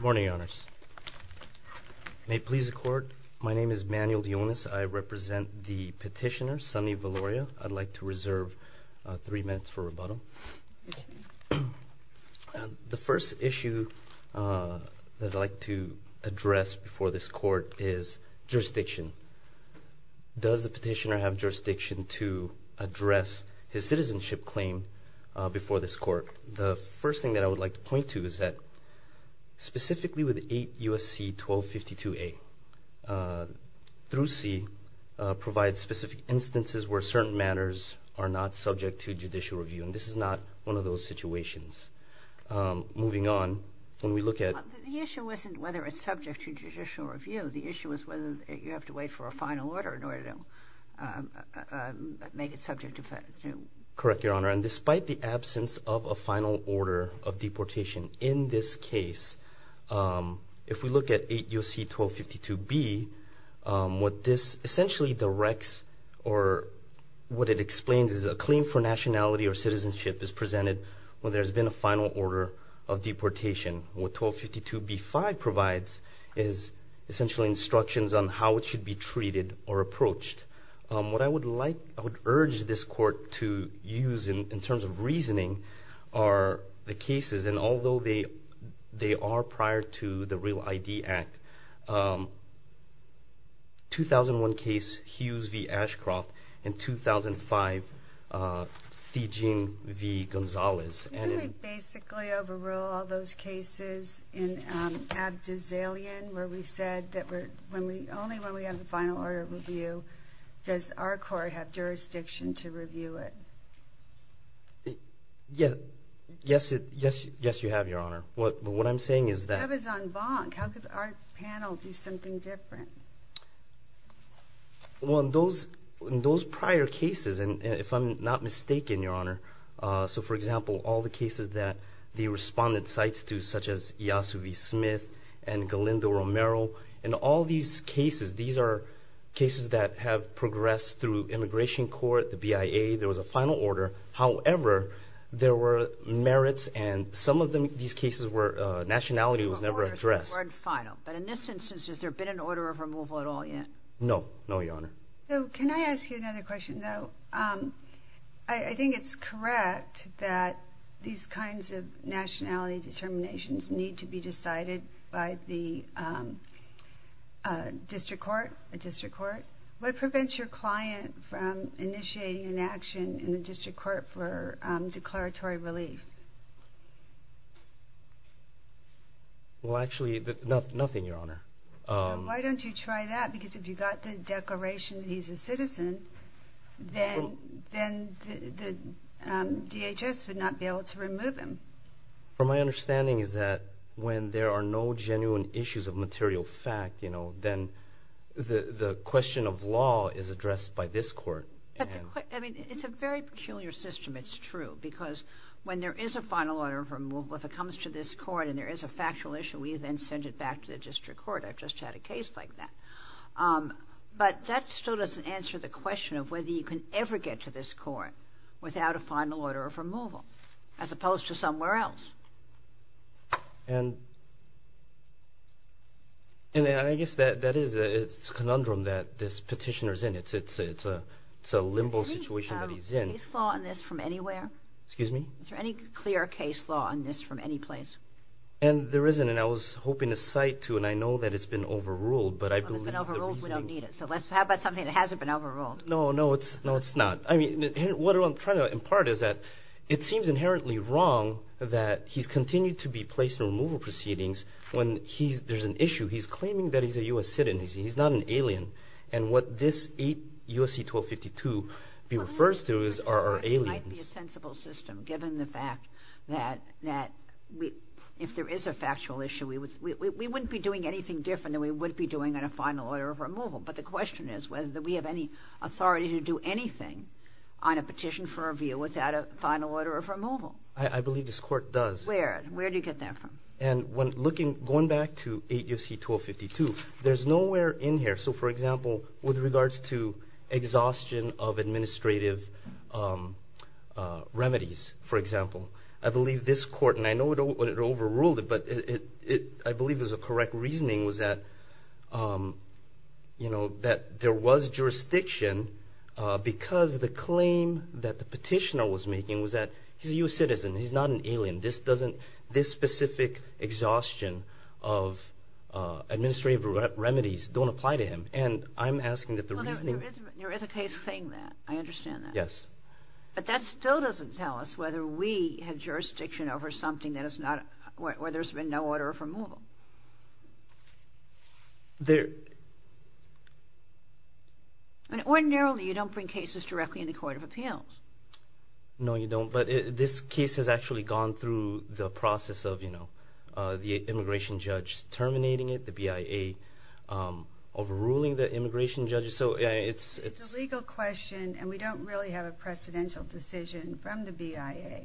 Morning, Your Honors. May it please the Court, my name is Manuel Dionis. I represent the petitioner, Sunny Viloria. I'd like to reserve three minutes for rebuttal. The first issue that I'd like to address before this Court is jurisdiction. Does the petitioner have The first thing that I would like to point to is that, specifically with 8 U.S.C. 1252-A, through C, provides specific instances where certain matters are not subject to judicial review. And this is not one of those situations. Moving on, when we look at The issue isn't whether it's subject to judicial review. The issue is whether you have to wait for a final order in order to make it subject to Correct, Your Honor. And despite the absence of a final order of deportation, in this case, if we look at 8 U.S.C. 1252-B, what this essentially directs, or what it explains, is a claim for nationality or citizenship is presented when there's been a final order of deportation. What 1252-B-5 provides is essentially instructions on how it should be treated or used in terms of reasoning are the cases, and although they are prior to the Real ID Act, 2001 case Hughes v. Ashcroft and 2005 Thijin v. Gonzalez. Can we basically overrule all those cases in Abduzalian where we said that only when we have a final order of review does our court have jurisdiction to review it? Yes, you have, Your Honor. But what I'm saying is that... That was on Bonk. How could our panel do something different? Well, in those prior cases, and if I'm not mistaken, Your Honor, so for example, all the cases that the respondent cites to, such as Yasu v. Smith and Galindo Romero, in all these cases, these are cases that have progressed through immigration court, the BIA, there was a final order. However, there were merits, and some of these cases where nationality was never addressed. But in this instance, has there been an order of removal at all yet? No, no, Your Honor. So can I ask you another question, though? I think it's correct that these kinds of nationality determinations need to be decided by the district court. What prevents your client from initiating an action in the district court for declaratory relief? Well, actually, nothing, Your Honor. Well, why don't you try that? Because if you got the declaration that he's a citizen, then the DHS would not be able to remove him. From my understanding is that when there are no genuine issues of material fact, then the question of law is addressed by this court. I mean, it's a very peculiar system, it's true, because when there is a final order of removal, if it comes to this court and there is a factual issue, we then send it back to the district court. I've just had a case like that. But that still doesn't answer the question of whether you can ever get to this court without a final order of removal, as opposed to somewhere else. And I guess that is a conundrum that this petitioner is in. It's a limbo situation that he's in. Is there any case law in this from anywhere? Excuse me? Is there any clear case law in this from any place? And there isn't, and I was hoping to cite two, and I know that it's been overruled. Well, if it's been overruled, we don't need it. So how about something that hasn't been overruled? No, no, it's not. I mean, what I'm trying to impart is that it seems inherently wrong that he's continued to be placed in removal proceedings when there's an issue. He's claiming that he's a U.S. citizen. He's not an alien. And what this U.S.C. 1252 refers to are aliens. It might be a sensible system, given the fact that if there is a factual issue, we wouldn't be doing anything different than we would be doing on a final order of removal. But the question is whether we have any authority to do anything on a petition for review without a final order of removal. I believe this court does. Where? Where do you get that from? Going back to 8 U.S.C. 1252, there's nowhere in here, so for example, with regards to exhaustion of administrative remedies, for example. I believe this court, and I know it overruled it, but I believe it was a correct reasoning, was that there was jurisdiction because the claim that the petitioner was making was that he's a U.S. citizen. He's not an alien. This specific exhaustion of administrative remedies don't apply to him. And I'm asking that the reasoning... There is a case saying that. I understand that. Yes. But that still doesn't tell us whether we have jurisdiction over something where there's been no order of removal. Ordinarily, you don't bring cases directly in the Court of Appeals. No, you don't. But this case has actually gone through the process of the immigration judge terminating it, the BIA overruling the immigration judge, so it's... It's a legal question, and we don't really have a precedential decision from the BIA.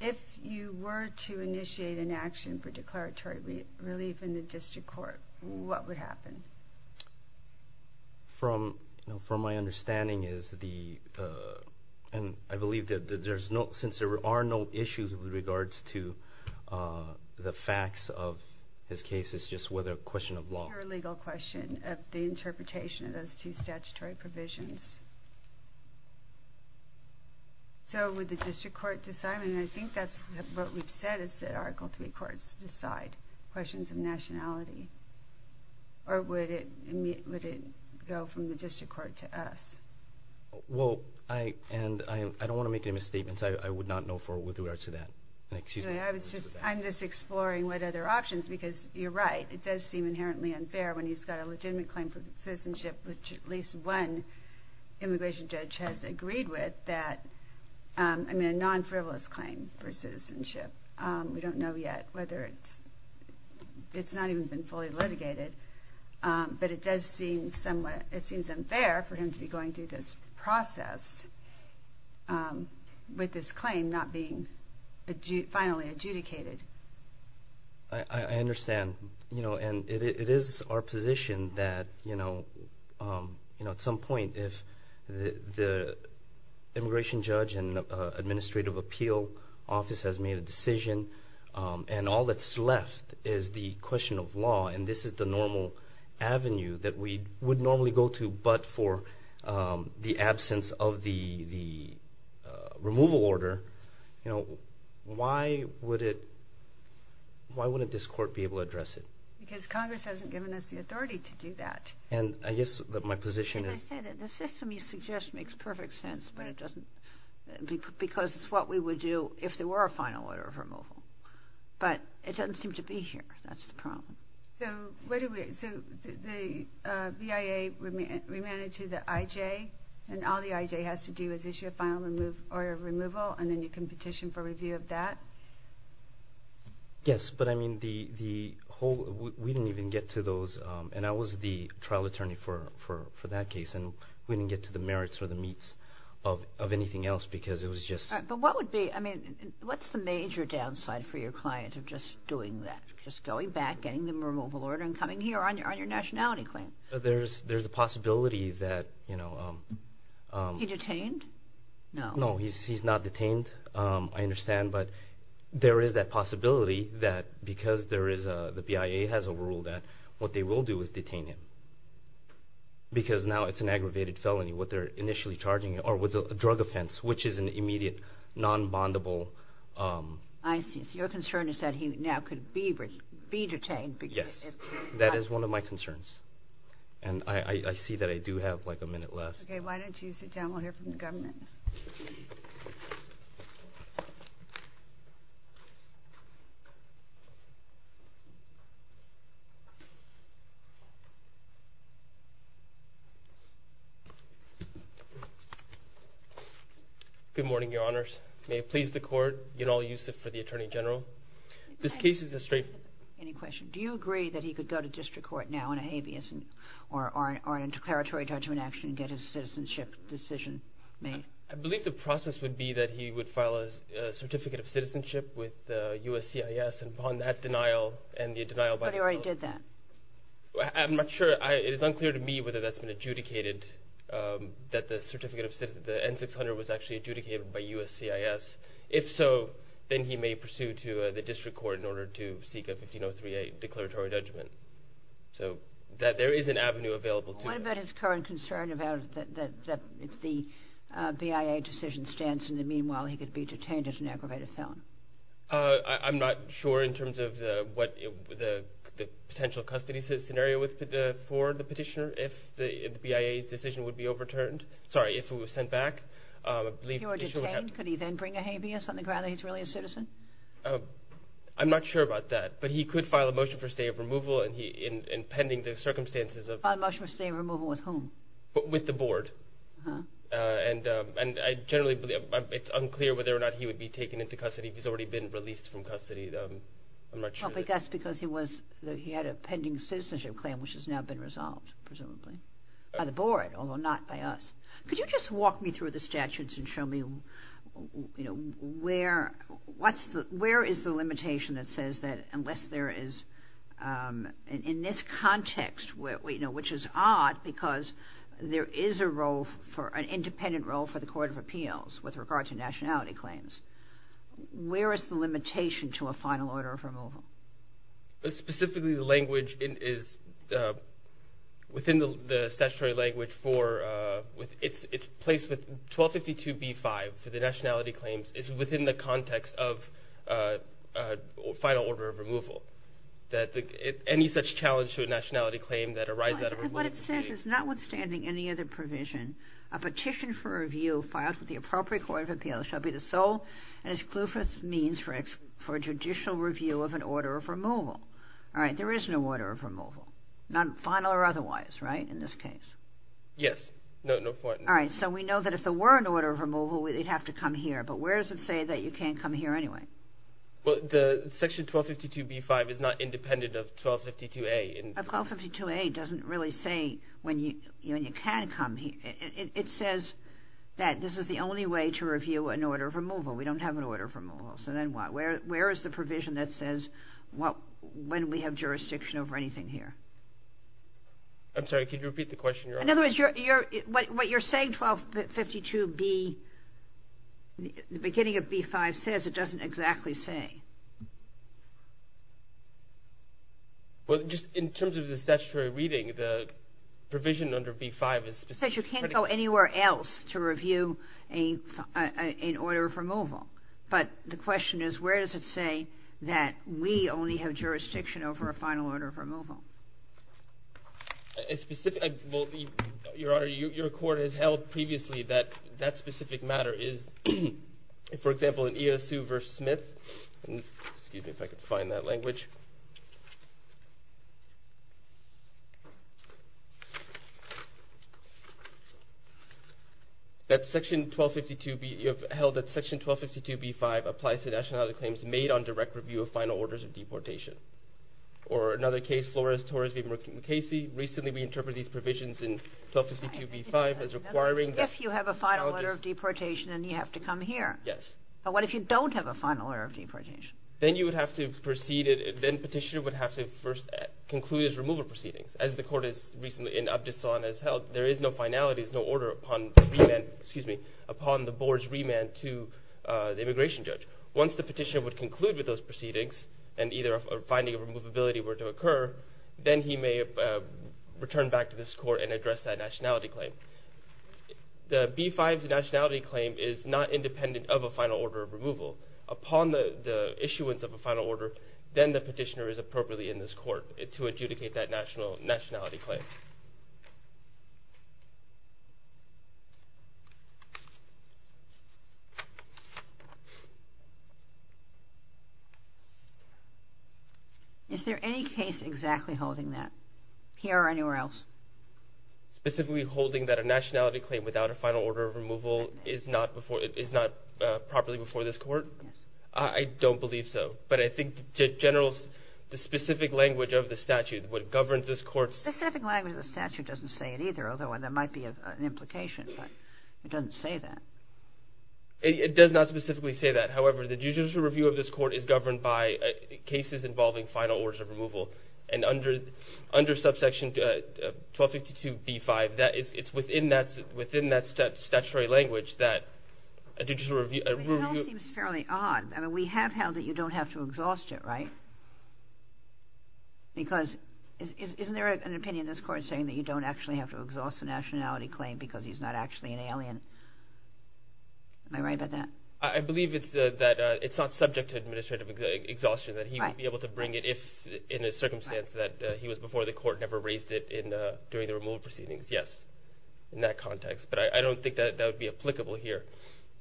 If you were to initiate an action for declaratory relief in the district court, what would happen? From my understanding is the... Since there are no issues with regards to the facts of this case, it's just a question of law. It's a legal question of the interpretation of those two statutory provisions. So would the district court decide, and I think that's what we've said, is that Article III courts decide questions of nationality. Or would it go from the district court to us? Well, and I don't want to make any misstatements. I would not know for what we'll do with regards to that. I'm just exploring what other options, because you're right. It does seem inherently unfair when he's got a legitimate claim for citizenship, which at least one immigration judge has agreed with, that... I mean, a non-frivolous claim for citizenship. We don't know yet whether it's... It's not even been fully litigated. But it does seem somewhat... It seems unfair for him to be going through this process with this claim not being finally adjudicated. I understand. And it is our position that at some point, if the immigration judge and administrative appeal office has made a decision, and all that's left is the question of law, and this is the normal avenue that we would normally go to, but for the absence of the removal order, why wouldn't this court be able to address it? Because Congress hasn't given us the authority to do that. And I guess my position is... And I say that the system you suggest makes perfect sense, because it's what we would do if there were a final order of removal. But it doesn't seem to be here. That's the problem. So the BIA remanded to the IJ, and all the IJ has to do is issue a final order of removal, and then you can petition for review of that? Yes, but I mean the whole... We didn't even get to those, and I was the trial attorney for that case, and we didn't get to the merits or the meats of anything else, because it was just... But what would be... I mean, what's the major downside for your client of just doing that, just going back, getting the removal order, and coming here on your nationality claim? There's a possibility that... He detained? No. No, he's not detained, I understand, but there is that possibility that because the BIA has a rule, that what they will do is detain him, because now it's an aggravated felony what they're initially charging him, or with a drug offense, which is an immediate non-bondable... I see, so your concern is that he now could be detained. Yes, that is one of my concerns, and I see that I do have like a minute left. Okay, why don't you sit down? We'll hear from the government. Good morning, Your Honors. May it please the Court, Yanal Yusuf for the Attorney General. This case is a straight... Any question? Do you agree that he could go to district court now on a habeas, or a declaratory judgment action, and get his citizenship decision made? I believe the process would be that he would file a certificate of citizenship with USCIS, and upon that denial, and the denial by the court... But he already did that. I'm not sure. It is unclear to me whether that's been adjudicated, that the N-600 was actually adjudicated by USCIS. If so, then he may pursue to the district court in order to seek a 15038 declaratory judgment. So there is an avenue available to him. What about his current concern about the BIA decision stance, and meanwhile he could be detained as an aggravated felon? I'm not sure in terms of the potential custody scenario for the petitioner if the BIA decision would be overturned. Sorry, if it was sent back. If he were detained, could he then bring a habeas on the grounds that he's really a citizen? I'm not sure about that. But he could file a motion for stay of removal, and pending the circumstances of... File a motion for stay of removal with whom? With the board. And it's unclear whether or not he would be taken into custody if he's already been released from custody. I'm not sure. That's because he had a pending citizenship claim which has now been resolved, presumably, by the board, although not by us. Could you just walk me through the statutes and show me where is the limitation that says that unless there is... In this context, which is odd, because there is an independent role for the Court of Appeals with regard to nationality claims, where is the limitation to a final order of removal? Specifically, the language is... Within the statutory language for... It's placed with 1252b-5 for the nationality claims. It's within the context of final order of removal. Any such challenge to a nationality claim that arises... What it says is, notwithstanding any other provision, a petition for review filed with the appropriate Court of Appeals shall be the sole and exclusive means for judicial review of an order of removal. There is no order of removal, not final or otherwise, right, in this case? Yes. So we know that if there were an order of removal, we'd have to come here, but where does it say that you can't come here anyway? The section 1252b-5 is not independent of 1252a. 1252a doesn't really say when you can come here. It says that this is the only way to review an order of removal. We don't have an order of removal, so then what? Where is the provision that says when we have jurisdiction over anything here? I'm sorry, can you repeat the question? In other words, what you're saying, 1252b... The beginning of b-5 says it doesn't exactly say. Well, just in terms of the statutory reading, the provision under b-5 is specific... It says you can't go anywhere else to review an order of removal, but the question is where does it say that we only have jurisdiction over a final order of removal? A specific... Your Honor, your Court has held previously that that specific matter is... For example, in EOSU v. Smith... Excuse me if I can find that language. That section 1252b... You have held that section 1252b-5 applies to nationality claims made on direct review of final orders of deportation. Or another case, Flores v. Casey, recently we interpreted these provisions in 1252b-5 as requiring... But what if you have a final order of deportation and you have to come here? Yes. But what if you don't have a final order of deportation? Then you would have to proceed... Then the petitioner would have to first conclude his removal proceedings. As the Court has recently, in Abdus Salaam, has held, there is no finality, there is no order upon the board's remand to the immigration judge. Once the petitioner would conclude with those proceedings and either a finding of removability were to occur, then he may return back to this Court and address that nationality claim. The B-5's nationality claim is not independent of a final order of removal. Upon the issuance of a final order, then the petitioner is appropriately in this Court to adjudicate that nationality claim. Is there any case exactly holding that? Here or anywhere else? Specifically holding that a nationality claim without a final order of removal is not properly before this Court? Yes. I don't believe so. But I think the general, the specific language of the statute, what governs this Court's... Specific language of the statute. The language of the statute doesn't say it either, although there might be an implication. It doesn't say that. It does not specifically say that. However, the judicial review of this Court is governed by cases involving final orders of removal. And under subsection 1252 B-5, it's within that statutory language that a judicial review... It all seems fairly odd. I mean, we have held that you don't have to exhaust it, right? Because isn't there an opinion in this Court saying that you don't actually have to exhaust a nationality claim because he's not actually an alien? Am I right about that? I believe that it's not subject to administrative exhaustion, that he would be able to bring it if in a circumstance that he was before the Court and never raised it during the removal proceedings. Yes, in that context. But I don't think that would be applicable here.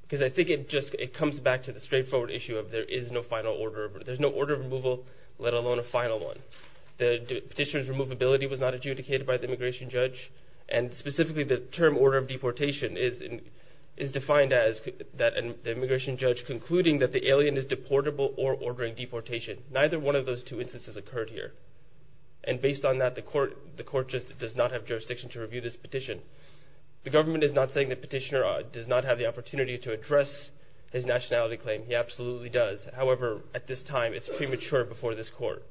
Because I think it just comes back to the straightforward issue of there is no final order. There's no order of removal, let alone a final one. The petitioner's removability was not adjudicated by the immigration judge, and specifically the term order of deportation is defined as the immigration judge concluding that the alien is deportable or ordering deportation. Neither one of those two instances occurred here. And based on that, the Court just does not have jurisdiction to review this petition. The government is not saying the petitioner does not have the opportunity to address his nationality claim. He absolutely does. However, at this time, it's premature before this Court.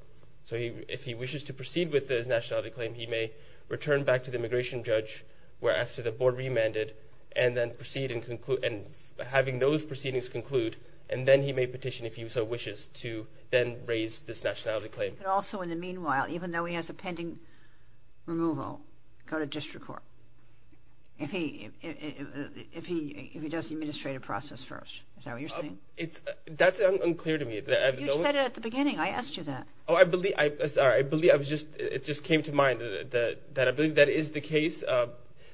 So if he wishes to proceed with his nationality claim, he may return back to the immigration judge after the Board remanded and then proceed in having those proceedings conclude, and then he may petition if he so wishes to then raise this nationality claim. But also in the meanwhile, even though he has a pending removal, go to district court if he does the administrative process first. Is that what you're saying? That's unclear to me. You said it at the beginning. I asked you that. Oh, I believe. I'm sorry. I believe. It just came to mind that I believe that is the case.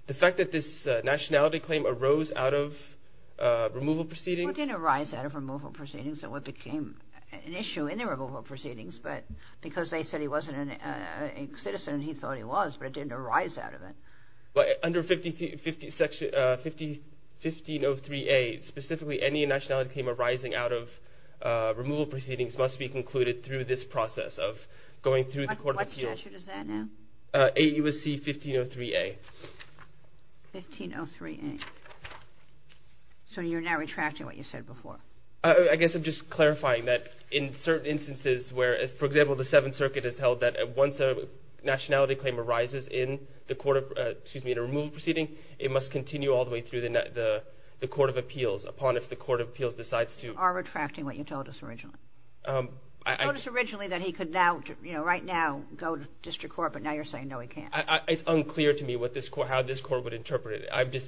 The fact that this nationality claim arose out of removal proceedings. Well, it didn't arise out of removal proceedings. That's what became an issue in the removal proceedings. But because they said he wasn't a citizen, he thought he was, but it didn't arise out of it. Under 1503A, specifically any nationality claim arising out of removal proceedings must be concluded through this process of going through the court of appeals. What statute is that now? AUSC 1503A. 1503A. So you're now retracting what you said before. I guess I'm just clarifying that in certain instances where, for example, the Seventh Circuit has held that once a nationality claim arises in a removal proceeding, it must continue all the way through the court of appeals upon if the court of appeals decides to. You are retracting what you told us originally. You told us originally that he could right now go to district court, but now you're saying no, he can't. It's unclear to me how this court would interpret it. I'm just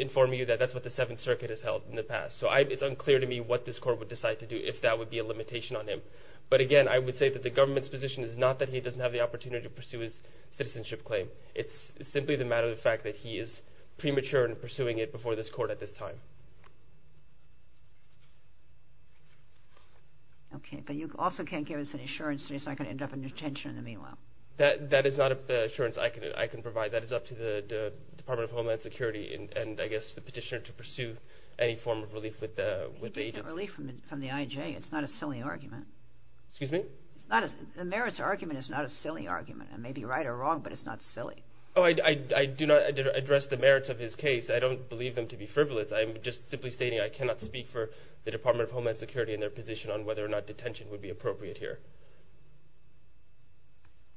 informing you that that's what the Seventh Circuit has held in the past. So it's unclear to me what this court would decide to do if that would be a limitation on him. But, again, I would say that the government's position is not that he doesn't have the opportunity to pursue his citizenship claim. It's simply the matter of the fact that he is premature in pursuing it before this court at this time. Okay, but you also can't give us an assurance that he's not going to end up in detention in the meanwhile. That is not an assurance I can provide. That is up to the Department of Homeland Security and, I guess, the petitioner to pursue any form of relief with the agency. It's not a relief from the I.J. It's not a silly argument. Excuse me? The merits argument is not a silly argument. It may be right or wrong, but it's not silly. Oh, I do not address the merits of his case. I don't believe them to be frivolous. I'm just simply stating I cannot speak for the Department of Homeland Security and their position on whether or not detention would be appropriate here.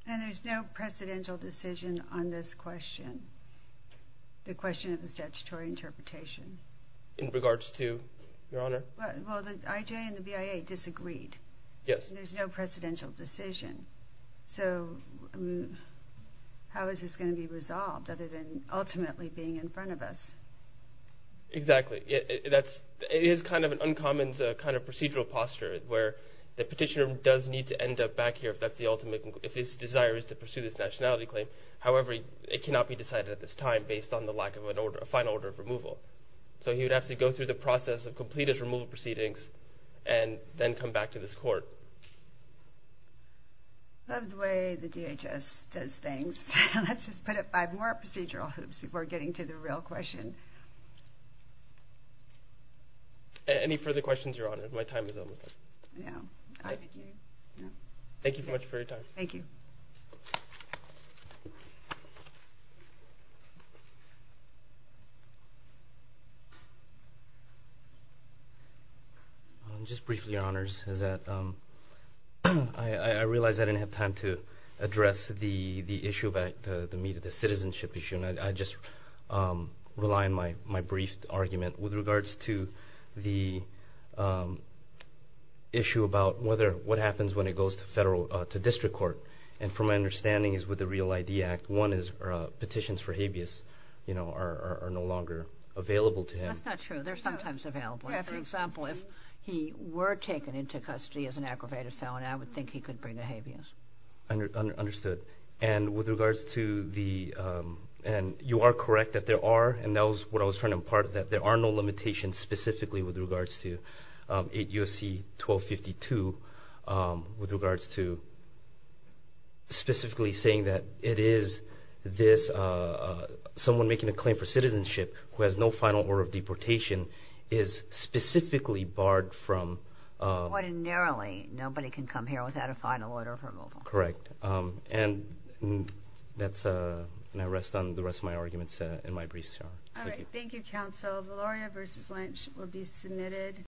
And there's no precedential decision on this question, the question of the statutory interpretation. In regards to, Your Honor? Well, the I.J. and the BIA disagreed. Yes. And there's no precedential decision. So, how is this going to be resolved other than ultimately being in front of us? Exactly. It is kind of an uncommon kind of procedural posture where the petitioner does need to end up back here if his desire is to pursue this nationality claim. However, it cannot be decided at this time based on the lack of a final order of removal. So, he would have to go through the process of completed removal proceedings and then come back to this court. I love the way the DHS does things. Let's just put it by more procedural hoops before getting to the real question. Any further questions, Your Honor? My time is almost up. Yeah. Thank you very much for your time. Thank you. Just briefly, Your Honors. I realize I didn't have time to address the issue about the citizenship issue. I just rely on my brief argument with regards to the issue about what happens when it goes to district court. And from my understanding is with the REAL-ID Act, one is petitions for habeas are no longer available to him. That's not true. They're sometimes available. For example, if he were taken into custody as an aggravated felon, I would think he could bring a habeas. Understood. And you are correct that there are, and that was what I was trying to impart, that there are no limitations specifically with regards to 8 U.S.C. 1252. With regards to specifically saying that it is someone making a claim for citizenship who has no final order of deportation is specifically barred from... Ordinarily, nobody can come here without a final order of removal. Correct. And that's, and I rest on the rest of my arguments in my brief. All right. Thank you, Counsel. Valeria v. Lynch will be submitted.